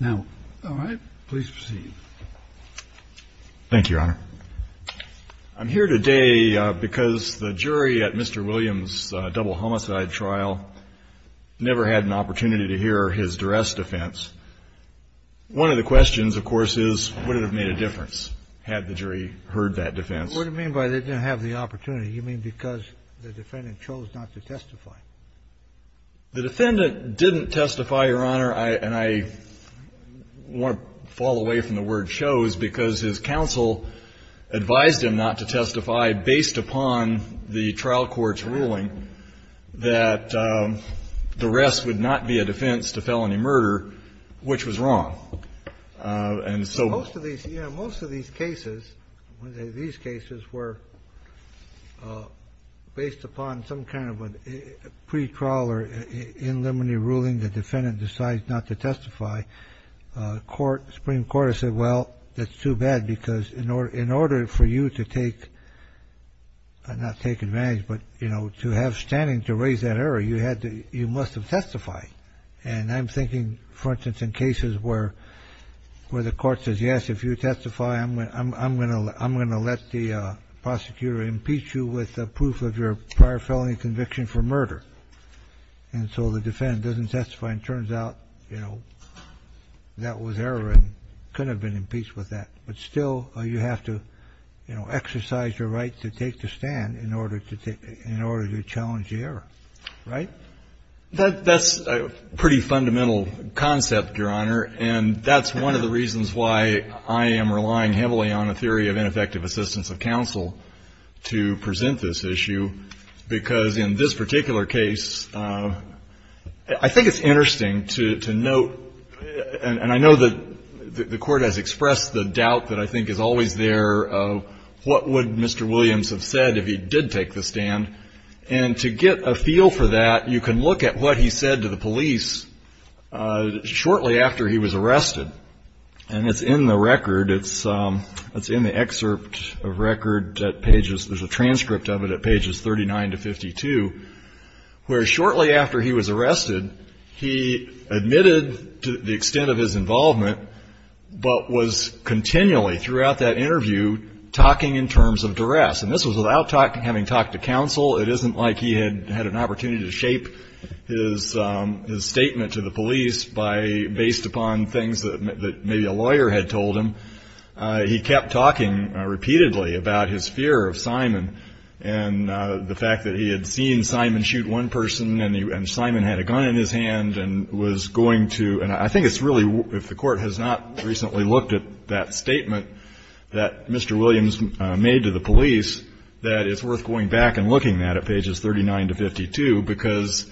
Now, all right. Please proceed. Thank you, Your Honor. I'm here today because the jury at Mr. Williams' double homicide trial never had an opportunity to hear his duress defense. One of the questions, of course, is would it have made a difference had the jury heard that defense? What do you mean by they didn't have the opportunity? You mean because the defendant chose not to testify? The defendant didn't testify, Your Honor, and I want to fall away from the word chose because his counsel advised him not to testify based upon the trial court's ruling that the rest would not be a defense to felony murder, which was wrong. Most of these cases were based upon some kind of a pre-trial or in limine ruling the defendant decides not to testify. The Supreme Court has said, well, that's too bad because in order for you to take, not take advantage, but to have standing to raise that error, you must have testified. And I'm thinking, for instance, in cases where the court says, yes, if you testify, I'm going to let the prosecutor impeach you with proof of your prior felony conviction for murder. And so the defendant doesn't testify. And it turns out, you know, that was error and couldn't have been impeached with that. But still, you have to exercise your right to take the stand in order to challenge the error. Right? That's a pretty fundamental concept, Your Honor, and that's one of the reasons why I am relying heavily on a theory of ineffective assistance of counsel to present this issue, because in this particular case, I think it's interesting to note, and I know that the Court has expressed the doubt that I think is always there of what would Mr. Williams have said if he did take the stand. And to get a feel for that, you can look at what he said to the police shortly after he was arrested. And it's in the record. It's in the excerpt of record at pages, there's a transcript of it at pages 39 to 52, where shortly after he was arrested, he admitted the extent of his And this was without having talked to counsel. It isn't like he had an opportunity to shape his statement to the police based upon things that maybe a lawyer had told him. He kept talking repeatedly about his fear of Simon and the fact that he had seen Simon shoot one person and Simon had a gun in his hand and was going to, and I think it's really, if the Court has not recently looked at that statement that Mr. Williams made to the police, that it's worth going back and looking at that at pages 39 to 52 because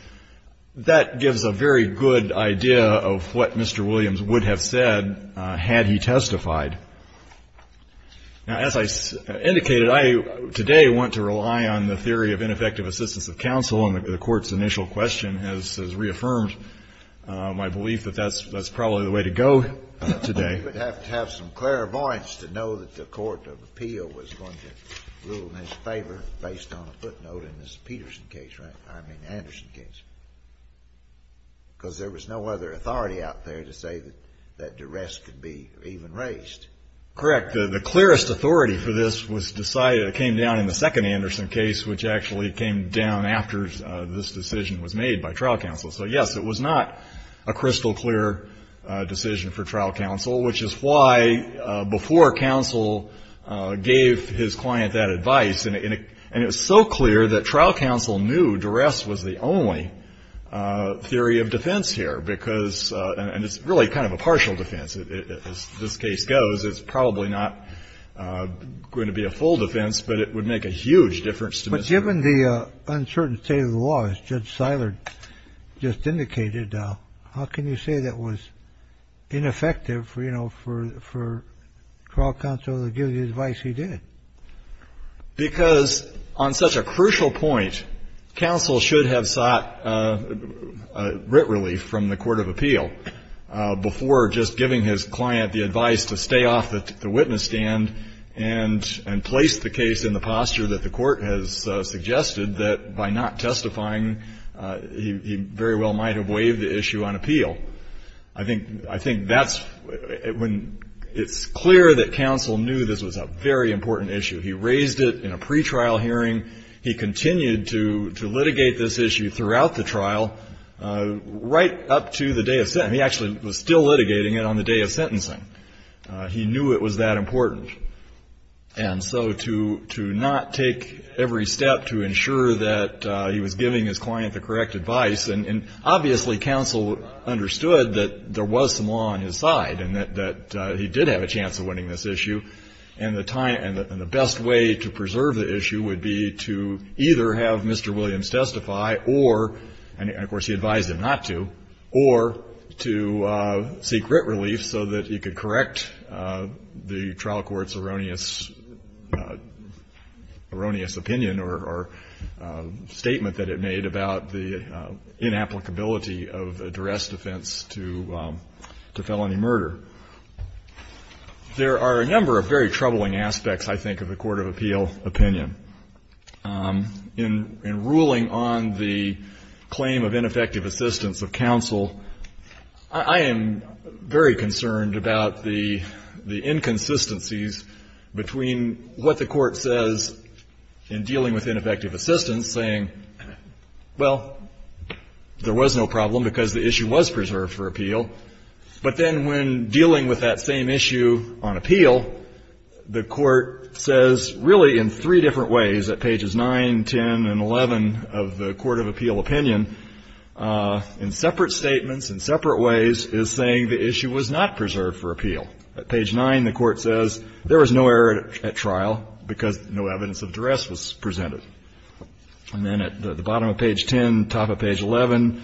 that gives a very good idea of what Mr. Williams would have said had he testified. Now, as I indicated, I today want to rely on the theory of ineffective assistance of counsel, and the Court's initial question has reaffirmed my belief that that's probably the way to go today. You would have to have some clairvoyance to know that the court of appeal was going to rule in his favor based on a footnote in the Peterson case, right, I mean Anderson case, because there was no other authority out there to say that that duress could be even raised. Correct. The clearest authority for this was decided, came down in the second session after this decision was made by trial counsel. So, yes, it was not a crystal clear decision for trial counsel, which is why before counsel gave his client that advice, and it was so clear that trial counsel knew duress was the only theory of defense here because, and it's really kind of a partial defense. As this case goes, it's probably not going to be a full defense, but it would make a huge difference to Mr. Williams. Given the uncertain state of the law, as Judge Siler just indicated, how can you say that was ineffective, you know, for trial counsel to give the advice he did? Because on such a crucial point, counsel should have sought writ relief from the court of appeal before just giving his client the advice to stay off the witness stand and place the case in the posture that the court has suggested that by not testifying, he very well might have waived the issue on appeal. I think that's when it's clear that counsel knew this was a very important issue. He raised it in a pretrial hearing. He continued to litigate this issue throughout the trial right up to the day of sentencing. He actually was still litigating it on the day of sentencing. He knew it was that important. And so to not take every step to ensure that he was giving his client the correct advice, and obviously counsel understood that there was some law on his side and that he did have a chance of winning this issue. And the best way to preserve the issue would be to either have Mr. Williams testify or, and of course he advised him not to, or to seek writ relief so that he could correct the trial court's erroneous opinion or statement that it made about the inapplicability of a duress defense to felony murder. There are a number of very troubling aspects, I think, of the court of appeal opinion. In ruling on the claim of ineffective assistance of counsel, I am very concerned about the inconsistencies between what the court says in dealing with ineffective assistance, saying, well, there was no problem because the issue was preserved for appeal, but then when dealing with that same issue on appeal, the court says, really in three different ways, at pages 9, 10, and 11 of the court of appeal opinion, in separate statements, in separate ways, is saying the issue was not preserved for appeal. At page 9, the court says there was no error at trial because no evidence of duress was presented. And then at the bottom of page 10, top of page 11,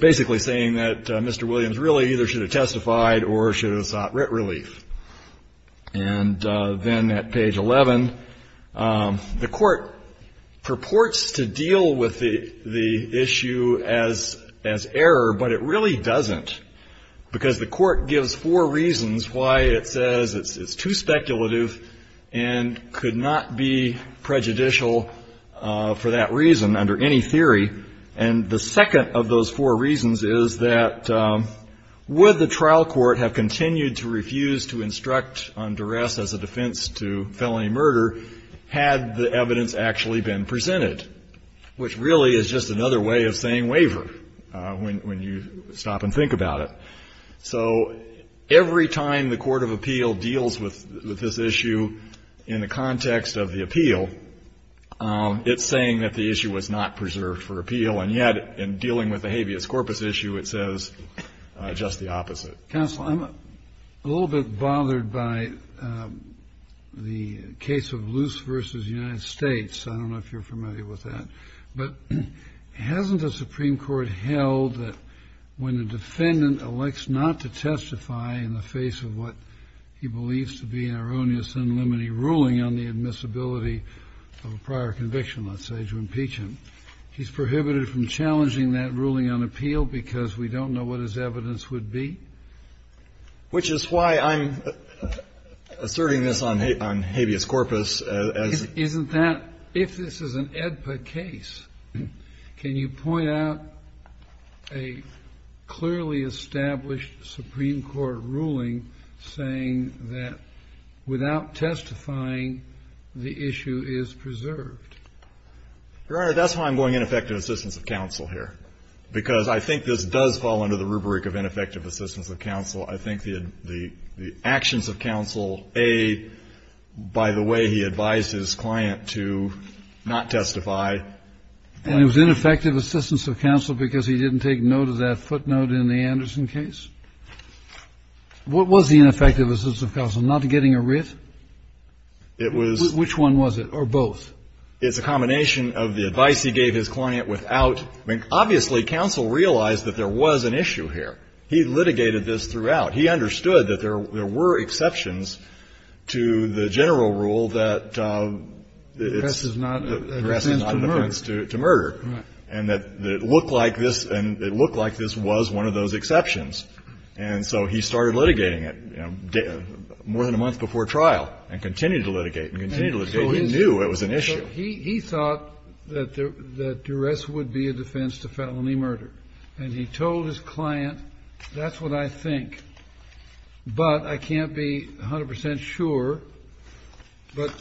basically saying that Mr. Williams really either should have testified or should have sought writ relief. And then at page 11, the court purports to deal with the issue as error, but it really doesn't, because the court gives four reasons why it says it's too speculative and could not be prejudicial for that reason under any theory. And the second of those four reasons is that would the trial court have continued to refuse to instruct on duress as a defense to felony murder had the evidence actually been presented, which really is just another way of saying waiver when you stop and think about it. So every time the court of appeal deals with this issue in the context of the appeal, it's saying that the issue was not preserved for appeal, and yet in dealing with the habeas corpus issue, it says just the opposite. Kennedy. Counsel, I'm a little bit bothered by the case of Luce v. United States. I don't know if you're familiar with that. But hasn't the Supreme Court held that when a defendant elects not to testify in the face of what he believes to be an erroneous and limiting ruling on the admissibility of a prior conviction, let's say, to impeach him, he's prohibited from challenging that ruling on appeal because we don't know what his evidence would be? Which is why I'm asserting this on habeas corpus as the Isn't that, if this is an AEDPA case, can you point out a clearly established Supreme Court ruling saying that without testifying, the issue is preserved? Your Honor, that's why I'm going ineffective assistance of counsel here, because I think this does fall under the rubric of ineffective assistance of counsel. I think the actions of counsel, A, by the way he advised his client to not testify And it was ineffective assistance of counsel because he didn't take note of that footnote in the Anderson case? What was the ineffective assistance of counsel? Not getting a writ? It was Which one was it? Or both? It's a combination of the advice he gave his client without I mean, obviously, counsel realized that there was an issue here. He litigated this throughout. He understood that there were exceptions to the general rule that it's not a defense to murder. And that it looked like this was one of those exceptions. And so he started litigating it more than a month before trial and continued to litigate and continued to litigate. He knew it was an issue. He thought that duress would be a defense to felony murder. And he told his client, that's what I think, but I can't be 100 percent sure. But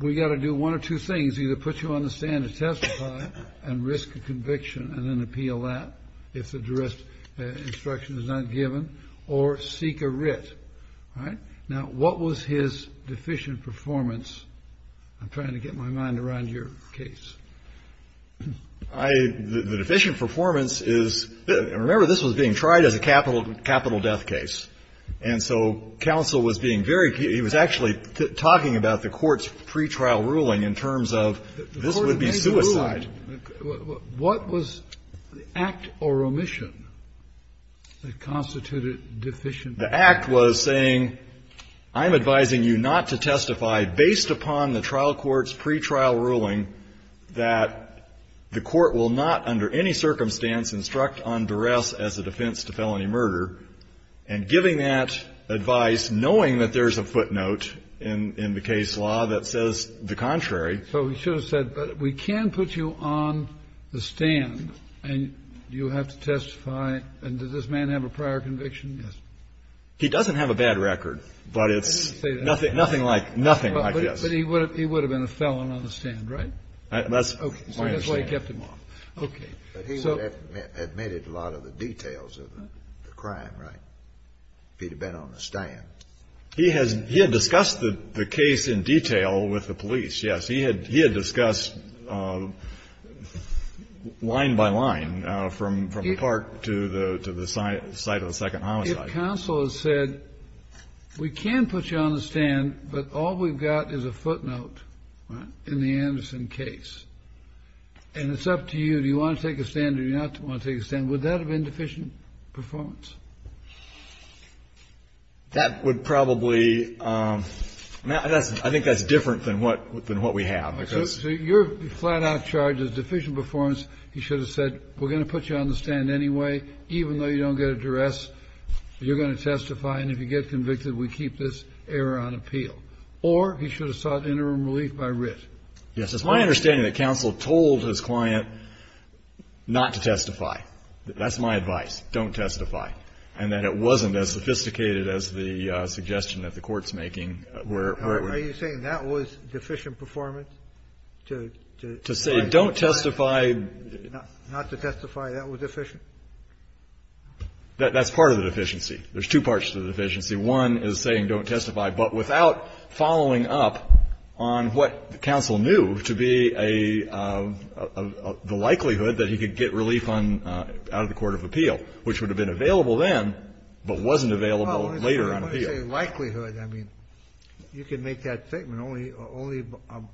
we've got to do one of two things. Either put you on the stand to testify and risk a conviction and then appeal that if the duress instruction is not given. Or seek a writ. All right. Now, what was his deficient performance? I'm trying to get my mind around your case. The deficient performance is, remember, this was being tried as a capital death case. And so counsel was being very key. He was actually talking about the court's pretrial ruling in terms of this would be suicide. The court made a ruling. What was the act or omission that constituted deficient performance? The act was saying, I'm advising you not to testify based upon the trial court's pretrial ruling that the court will not under any circumstance instruct on duress as a defense to felony murder and giving that advice knowing that there's a footnote in the case law that says the contrary. So he should have said, but we can put you on the stand and you have to testify. And does this man have a prior conviction? Yes. He doesn't have a bad record, but it's nothing like this. But he would have been a felon on the stand, right? That's my understanding. Okay. But he would have admitted a lot of the details of the crime, right, if he had been on the stand. He had discussed the case in detail with the police, yes. He had discussed line by line from the park to the site of the second homicide. Counsel has said, we can put you on the stand, but all we've got is a footnote in the Anderson case. And it's up to you. Do you want to take a stand or do you not want to take a stand? Would that have been deficient performance? That would probably ‑‑ I think that's different than what we have. So you're flat out charged as deficient performance. He should have said, we're going to put you on the stand anyway, even though you don't get a duress. You're going to testify, and if you get convicted, we keep this error on appeal. Or he should have sought interim relief by writ. Yes. It's my understanding that counsel told his client not to testify. That's my advice. Don't testify. And that it wasn't as sophisticated as the suggestion that the Court's making. Are you saying that was deficient performance? To say don't testify. Not to testify. That was deficient. That's part of the deficiency. There's two parts to the deficiency. One is saying don't testify, but without following up on what counsel knew to be a ‑‑ the likelihood that he could get relief out of the court of appeal, which would have been available then but wasn't available later on appeal. Likelihood, I mean, you can make that statement only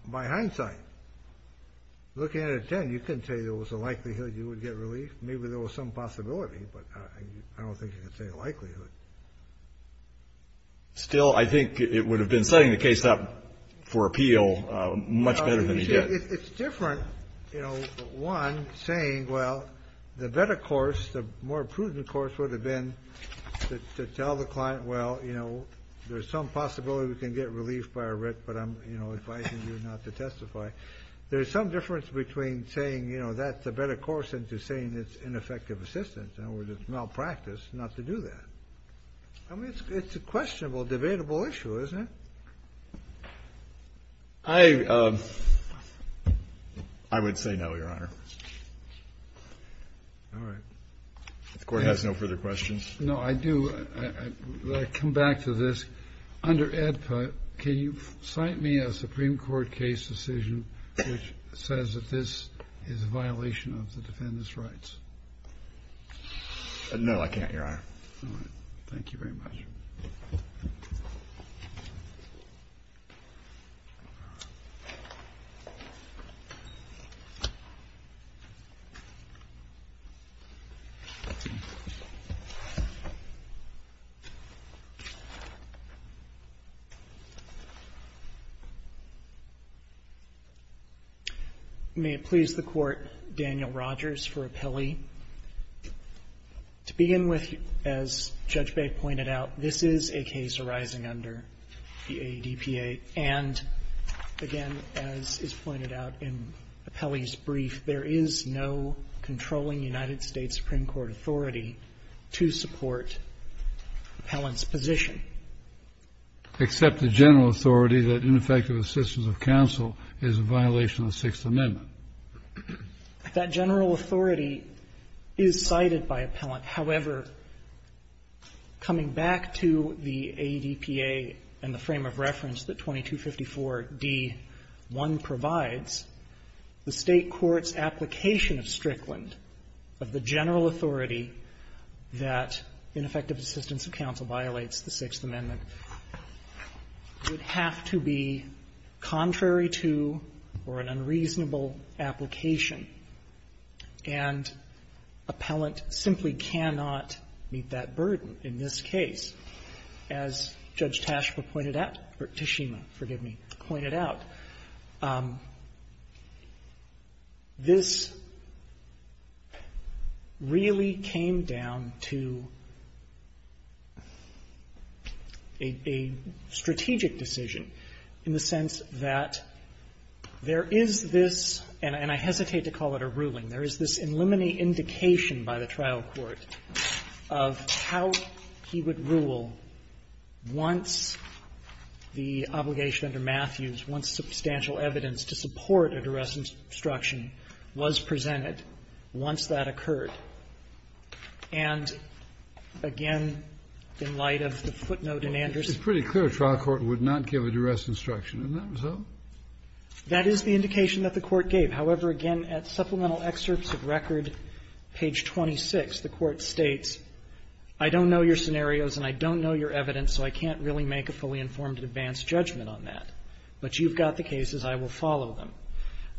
by hindsight. Looking at it then, you couldn't say there was a likelihood you would get relief. Maybe there was some possibility, but I don't think you can say likelihood. Still, I think it would have been setting the case up for appeal much better than it did. It's different, you know, one, saying, well, the better course, the more prudent course would have been to tell the client, well, you know, there's some possibility we can get relief by a writ, but I'm, you know, advising you not to testify. There's some difference between saying, you know, that's a better course than to saying it's ineffective assistance or it's malpractice not to do that. I mean, it's a questionable, debatable issue, isn't it? I would say no, Your Honor. All right. If the Court has no further questions. No, I do. I come back to this. Under AEDPA, can you cite me a Supreme Court case decision which says that this is a violation of the defendant's rights? All right. Thank you very much. May it please the Court, Daniel Rogers for appellee. To begin with, as Judge Bake pointed out, this is a case arising under the AEDPA. And again, as is pointed out in the appellee's brief, there is no controlling United States Supreme Court authority to support the appellant's position. Except the general authority that ineffective assistance of counsel is a violation of the Sixth Amendment. That general authority is cited by appellant. However, coming back to the AEDPA and the frame of reference that 2254d.1 provides, the State court's application of Strickland, of the general authority that ineffective assistance of counsel violates the Sixth Amendment, would have to be contrary to or an unreasonable application. And appellant simply cannot meet that burden in this case. As Judge Tashberg pointed out or Tashima, forgive me, pointed out, this really came down to a strategic decision in the sense that the State court's application there is this, and I hesitate to call it a ruling, there is this inlimiting indication by the trial court of how he would rule once the obligation under Matthews, once substantial evidence to support a duress instruction was presented, once that That is the indication that the Court gave. However, again, at supplemental excerpts of record, page 26, the Court states, I don't know your scenarios and I don't know your evidence, so I can't really make a fully informed and advanced judgment on that. But you've got the cases. I will follow them.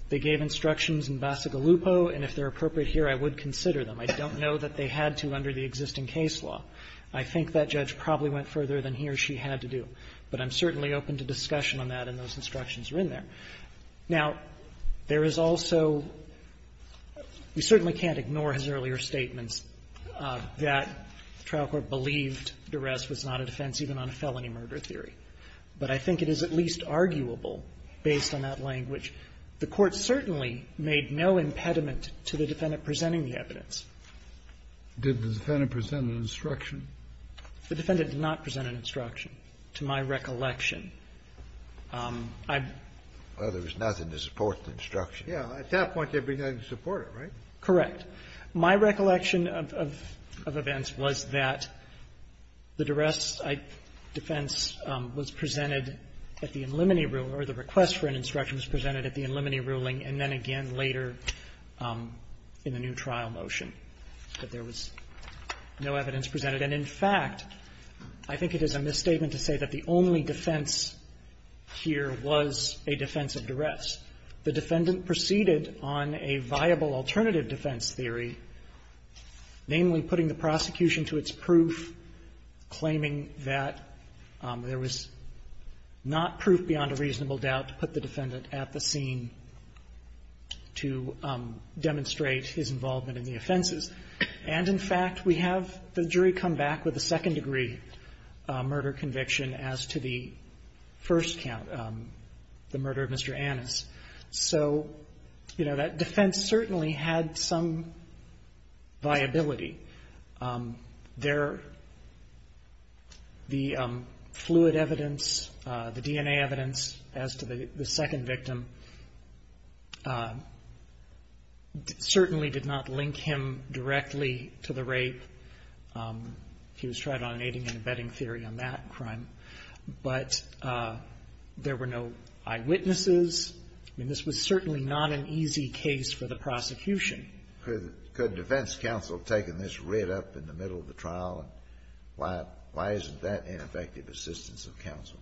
They gave instructions in Bassigalupo, and if they're appropriate here, I would consider them. I don't know that they had to under the existing case law. I think that judge probably went further than he or she had to do. But I'm certainly open to discussion on that, and those instructions are in there. Now, there is also we certainly can't ignore his earlier statements that the trial court believed duress was not a defense even on a felony murder theory. But I think it is at least arguable, based on that language, the Court certainly made no impediment to the defendant presenting the evidence. Kennedy, did the defendant present an instruction? The defendant did not present an instruction. To my recollection, I've been to the trial court. Well, there was nothing to support the instruction. Yeah. At that point, there'd be nothing to support it, right? Correct. My recollection of events was that the duress defense was presented at the in limine rule, or the request for an instruction was presented at the in limine ruling, and then again later in the new trial motion. But there was no evidence presented. And in fact, I think it is a misstatement to say that the only defense here was a defense of duress. The defendant proceeded on a viable alternative defense theory, namely, putting the prosecution to its proof, claiming that there was not proof beyond a reasonable doubt to put the defendant at the scene to demonstrate his involvement in the offenses. And in fact, we have the jury come back with a second-degree murder conviction as to the first count, the murder of Mr. Annis. So, you know, that defense certainly had some viability. There, the fluid evidence, the DNA evidence, as to whether or not there was any evidence to the second victim, certainly did not link him directly to the rape. He was tried on an aiding and abetting theory on that crime. But there were no eyewitnesses. I mean, this was certainly not an easy case for the prosecution. Could defense counsel have taken this right up in the middle of the trial? Why isn't that ineffective assistance of counsel?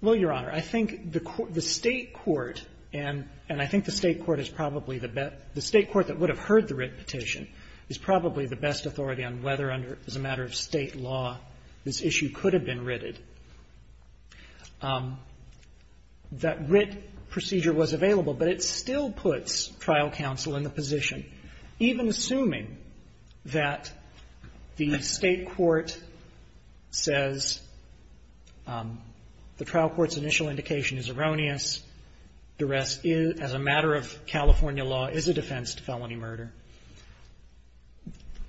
Well, Your Honor, I think the State court, and I think the State court is probably the best the State court that would have heard the writ petition is probably the best authority on whether, as a matter of State law, this issue could have been writted. That writ procedure was available, but it still puts trial counsel in the position. Even assuming that the State court says the trial court's initial indication is erroneous, duress as a matter of California law is a defense to felony murder,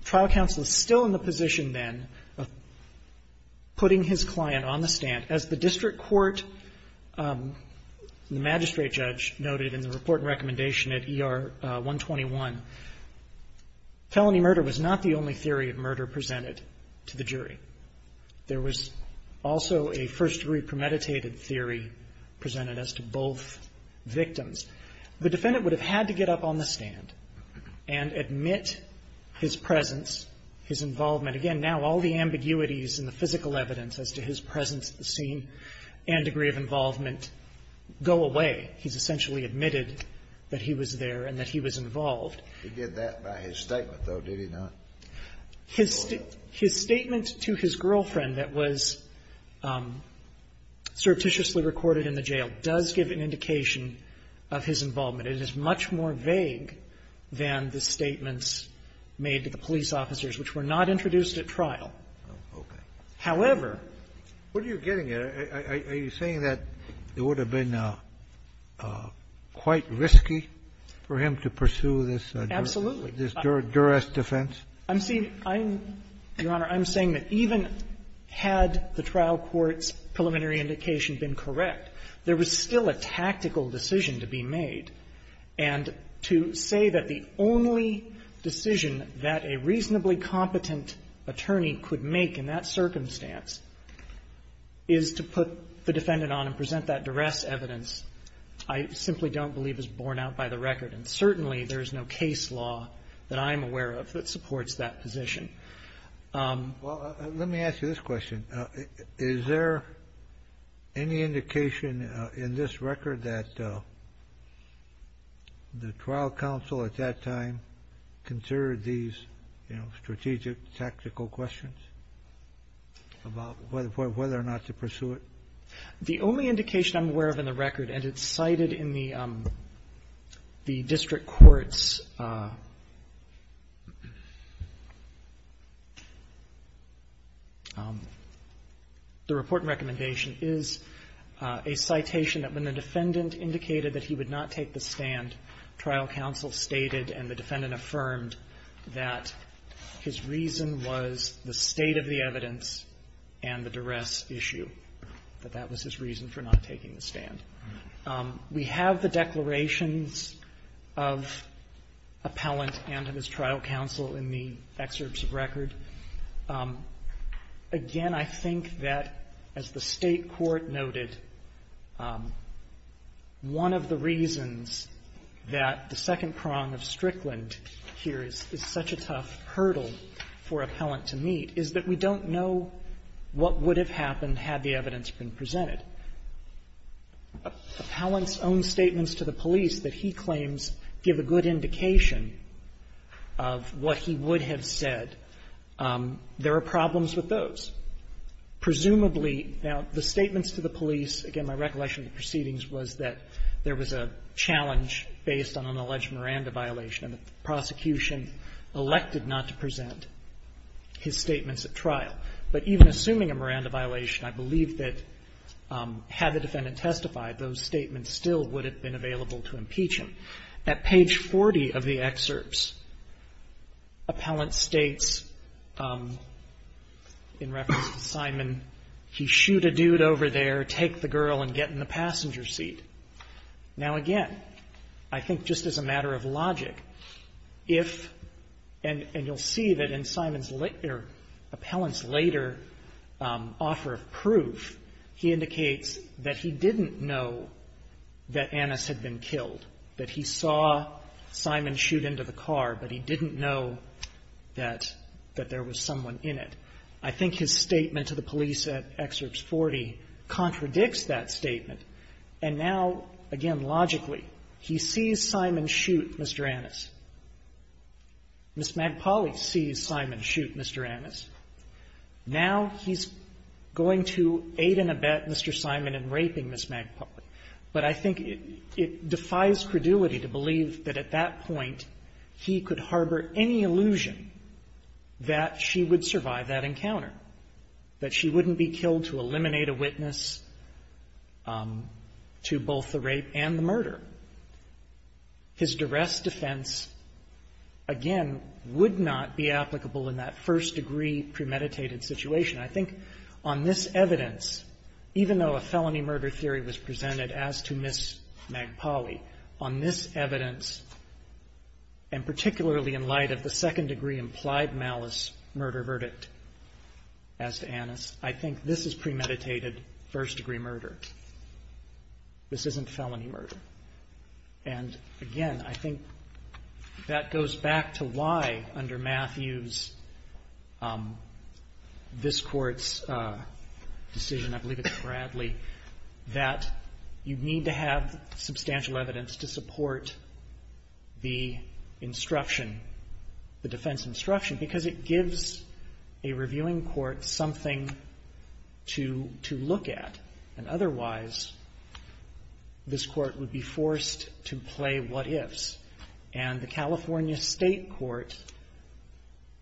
trial counsel is still in the position then of putting his client on the stand. As the district court, the magistrate judge noted in the report and recommendation at ER 121, felony murder was not the only theory of murder presented to the jury. There was also a first-degree premeditated theory presented as to both victims. The defendant would have had to get up on the stand and admit his presence, his involvement. Again, now all the ambiguities in the physical evidence as to his presence at the scene and degree of involvement go away. He's essentially admitted that he was there and that he was involved. Scalia, you did that by his statement, though, did you not? His statement to his girlfriend that was surreptitiously recorded in the jail does give an indication of his involvement. It is much more vague than the statements made to the police officers, which were not introduced at trial. Okay. However, What are you getting at? Are you saying that it would have been quite risky for him to pursue this duress defense? Absolutely. I'm saying, Your Honor, I'm saying that even had the trial court's preliminary indication been correct, there was still a tactical decision to be made. And to say that the only decision that a reasonably competent attorney could make in that circumstance is to put the defendant on and present that duress evidence, I simply don't believe is borne out by the record. And certainly there is no case law that I'm aware of that supports that position. Well, let me ask you this question. Is there any indication in this record that the trial counsel at that time considered these, you know, strategic, tactical questions about whether or not to pursue it? The only indication I'm aware of in the record, and it's cited in the district court's, the report and recommendation, is a citation that when the defendant indicated that he would not take the stand, trial counsel stated and the defendant affirmed that his reason was the state of the evidence and the duress issue, that that was his reason for not taking the stand. We have the declarations of Appellant and of his trial counsel in the excerpts of record. And again, I think that, as the State court noted, one of the reasons that the second prong of Strickland here is such a tough hurdle for Appellant to meet is that we don't know what would have happened had the evidence been presented. Appellant's own statements to the police that he claims give a good indication of what he would have said. There are problems with those. Presumably, now, the statements to the police, again, my recollection of the proceedings was that there was a challenge based on an alleged Miranda violation, and the prosecution elected not to present his statements at trial. But even assuming a Miranda violation, I believe that had the defendant testified, those statements still would have been available to impeach him. At page 40 of the excerpts, Appellant states, in reference to Simon, he shoot a dude over there, take the girl, and get in the passenger seat. Now, again, I think just as a matter of logic, if and you'll see that in Simon's later, Appellant's later offer of proof, he indicates that he didn't know that Annis had been killed, that he saw Simon shoot into the car, but he didn't know that there was someone in it. I think his statement to the police at excerpt 40 contradicts that statement. And now, again, logically, he sees Simon shoot Mr. Annis. Ms. Magpoli sees Simon shoot Mr. Annis. Now he's going to aid and abet Mr. Simon in raping Ms. Magpoli. But I think it defies credulity to believe that at that point he could harbor any illusion that she would survive that encounter, that she wouldn't be killed to eliminate a witness to both the rape and the murder. His duress defense, again, would not be applicable in that first-degree premeditated situation. I think on this evidence, even though a felony murder theory was presented as to Ms. Magpoli, on this evidence, and particularly in light of the second-degree implied malice murder verdict as to Annis, I think this is premeditated first-degree murder. This isn't felony murder. And again, I think that goes back to why, under Matthews, this Court's decision, I believe it's Bradley, that you need to have substantial evidence to support the instruction, the defense instruction, because it gives a reviewing court something to look at, and otherwise, this Court would be forced to play what-ifs. And the California State Court,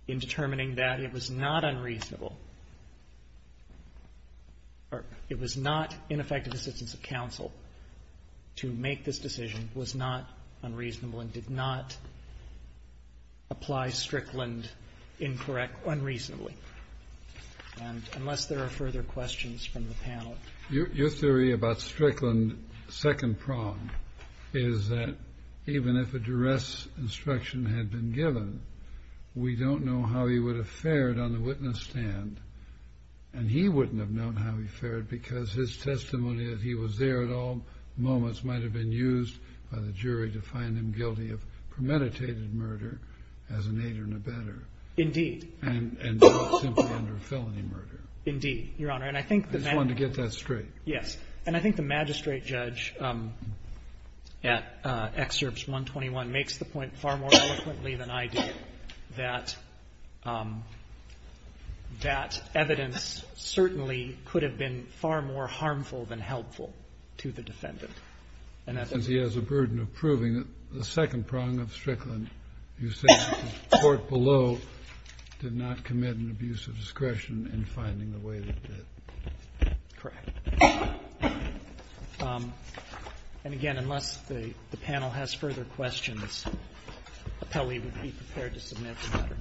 in determining that it was not unreasonable, or it was not ineffective assistance of counsel to make this decision, was not unreasonable, and did not apply Strickland incorrect, unreasonably, unless there are further questions from the panel. Your theory about Strickland, second prong, is that even if a duress instruction had been given, we don't know how he would have fared on the witness stand, and he wouldn't have known how he fared because his testimony that he was there at all moments might have been used by the jury to find him guilty of premeditated murder as an aider and abetter. Indeed. And not simply under felony murder. Indeed, Your Honor. And I think the magistrate. I just wanted to get that straight. Yes. And I think the magistrate judge at Excerpts 121 makes the point far more eloquently than I do that that evidence certainly could have been far more harmful than helpful to the defendant. And he has a burden of proving the second prong of Strickland. You say the court below did not commit an abuse of discretion in finding the way that it did. Correct. And again, unless the panel has further questions, Appellee would be prepared to submit the matter.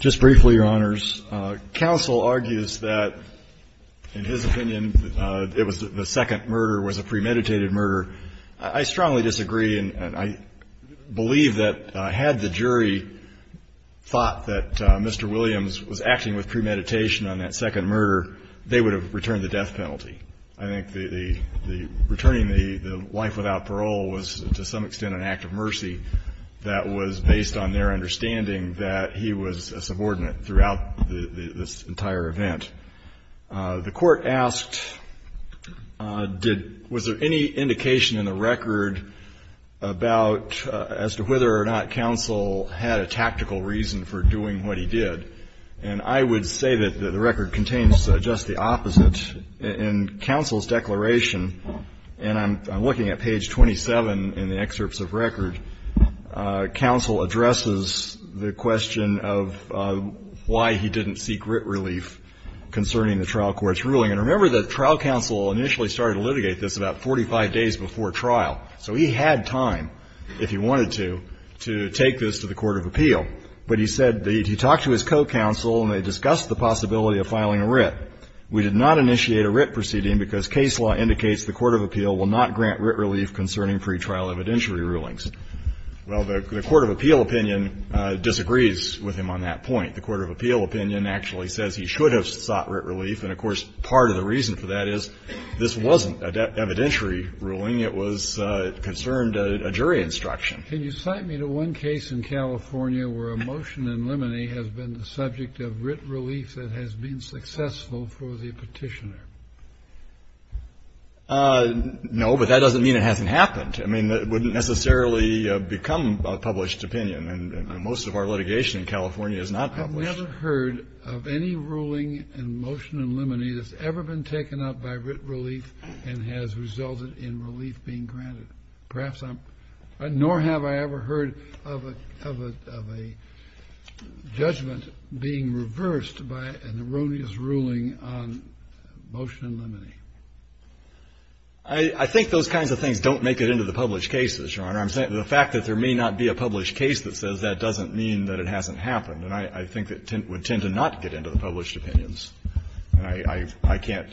Just briefly, Your Honors. Counsel argues that, in his opinion, it was the second murder was a premeditated murder. I strongly disagree, and I believe that had the jury thought that Mr. Williams was acting with premeditation on that second murder, they would have returned the death penalty. I think the returning the life without parole was, to some extent, an act of mercy that was based on their understanding that he was a subordinate throughout this entire event. The court asked, was there any indication in the record about as to whether or not counsel had a tactical reason for doing what he did? And I would say that the record contains just the opposite. In counsel's declaration, and I'm looking at page 27 in the excerpts of record, counsel addresses the question of why he didn't seek writ relief concerning the trial court's ruling. And remember that trial counsel initially started to litigate this about 45 days before trial. So he had time, if he wanted to, to take this to the court of appeal. But he said that he talked to his co-counsel and they discussed the possibility of filing a writ. We did not initiate a writ proceeding because case law indicates the court of appeal will not grant writ relief concerning pretrial evidentiary rulings. Well, the court of appeal opinion disagrees with him on that point. The court of appeal opinion actually says he should have sought writ relief, and, of course, part of the reason for that is this wasn't an evidentiary ruling. It was concerned a jury instruction. Can you cite me to one case in California where a motion in limine has been the subject of writ relief that has been successful for the petitioner? No, but that doesn't mean it hasn't happened. I mean, it wouldn't necessarily become a published opinion. And most of our litigation in California is not published. I've never heard of any ruling in motion in limine that's ever been taken up by writ relief being granted. Nor have I ever heard of a judgment being reversed by an erroneous ruling on motion in limine. I think those kinds of things don't make it into the published cases, Your Honor. The fact that there may not be a published case that says that doesn't mean that it hasn't happened. And I think it would tend to not get into the published opinions. And I can't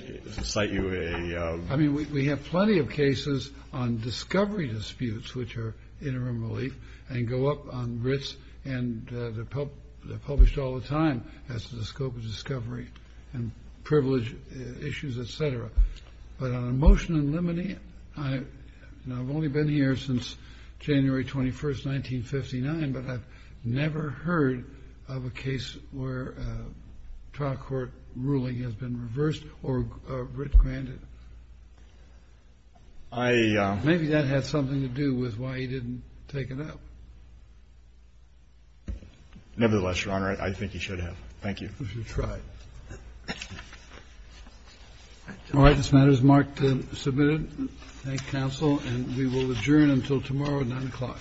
cite you a ---- I mean, we have plenty of cases on discovery disputes, which are interim relief, and go up on writs. And they're published all the time as to the scope of discovery and privilege issues, et cetera. But on a motion in limine, I've only been here since January 21, 1959. But I've never heard of a case where a trial court ruling has been reversed or written granted. I ---- Maybe that has something to do with why he didn't take it up. Nevertheless, Your Honor, I think he should have. Thank you. All right. This matter is marked and submitted. Thank you, counsel. And we will adjourn until tomorrow at 9 o'clock.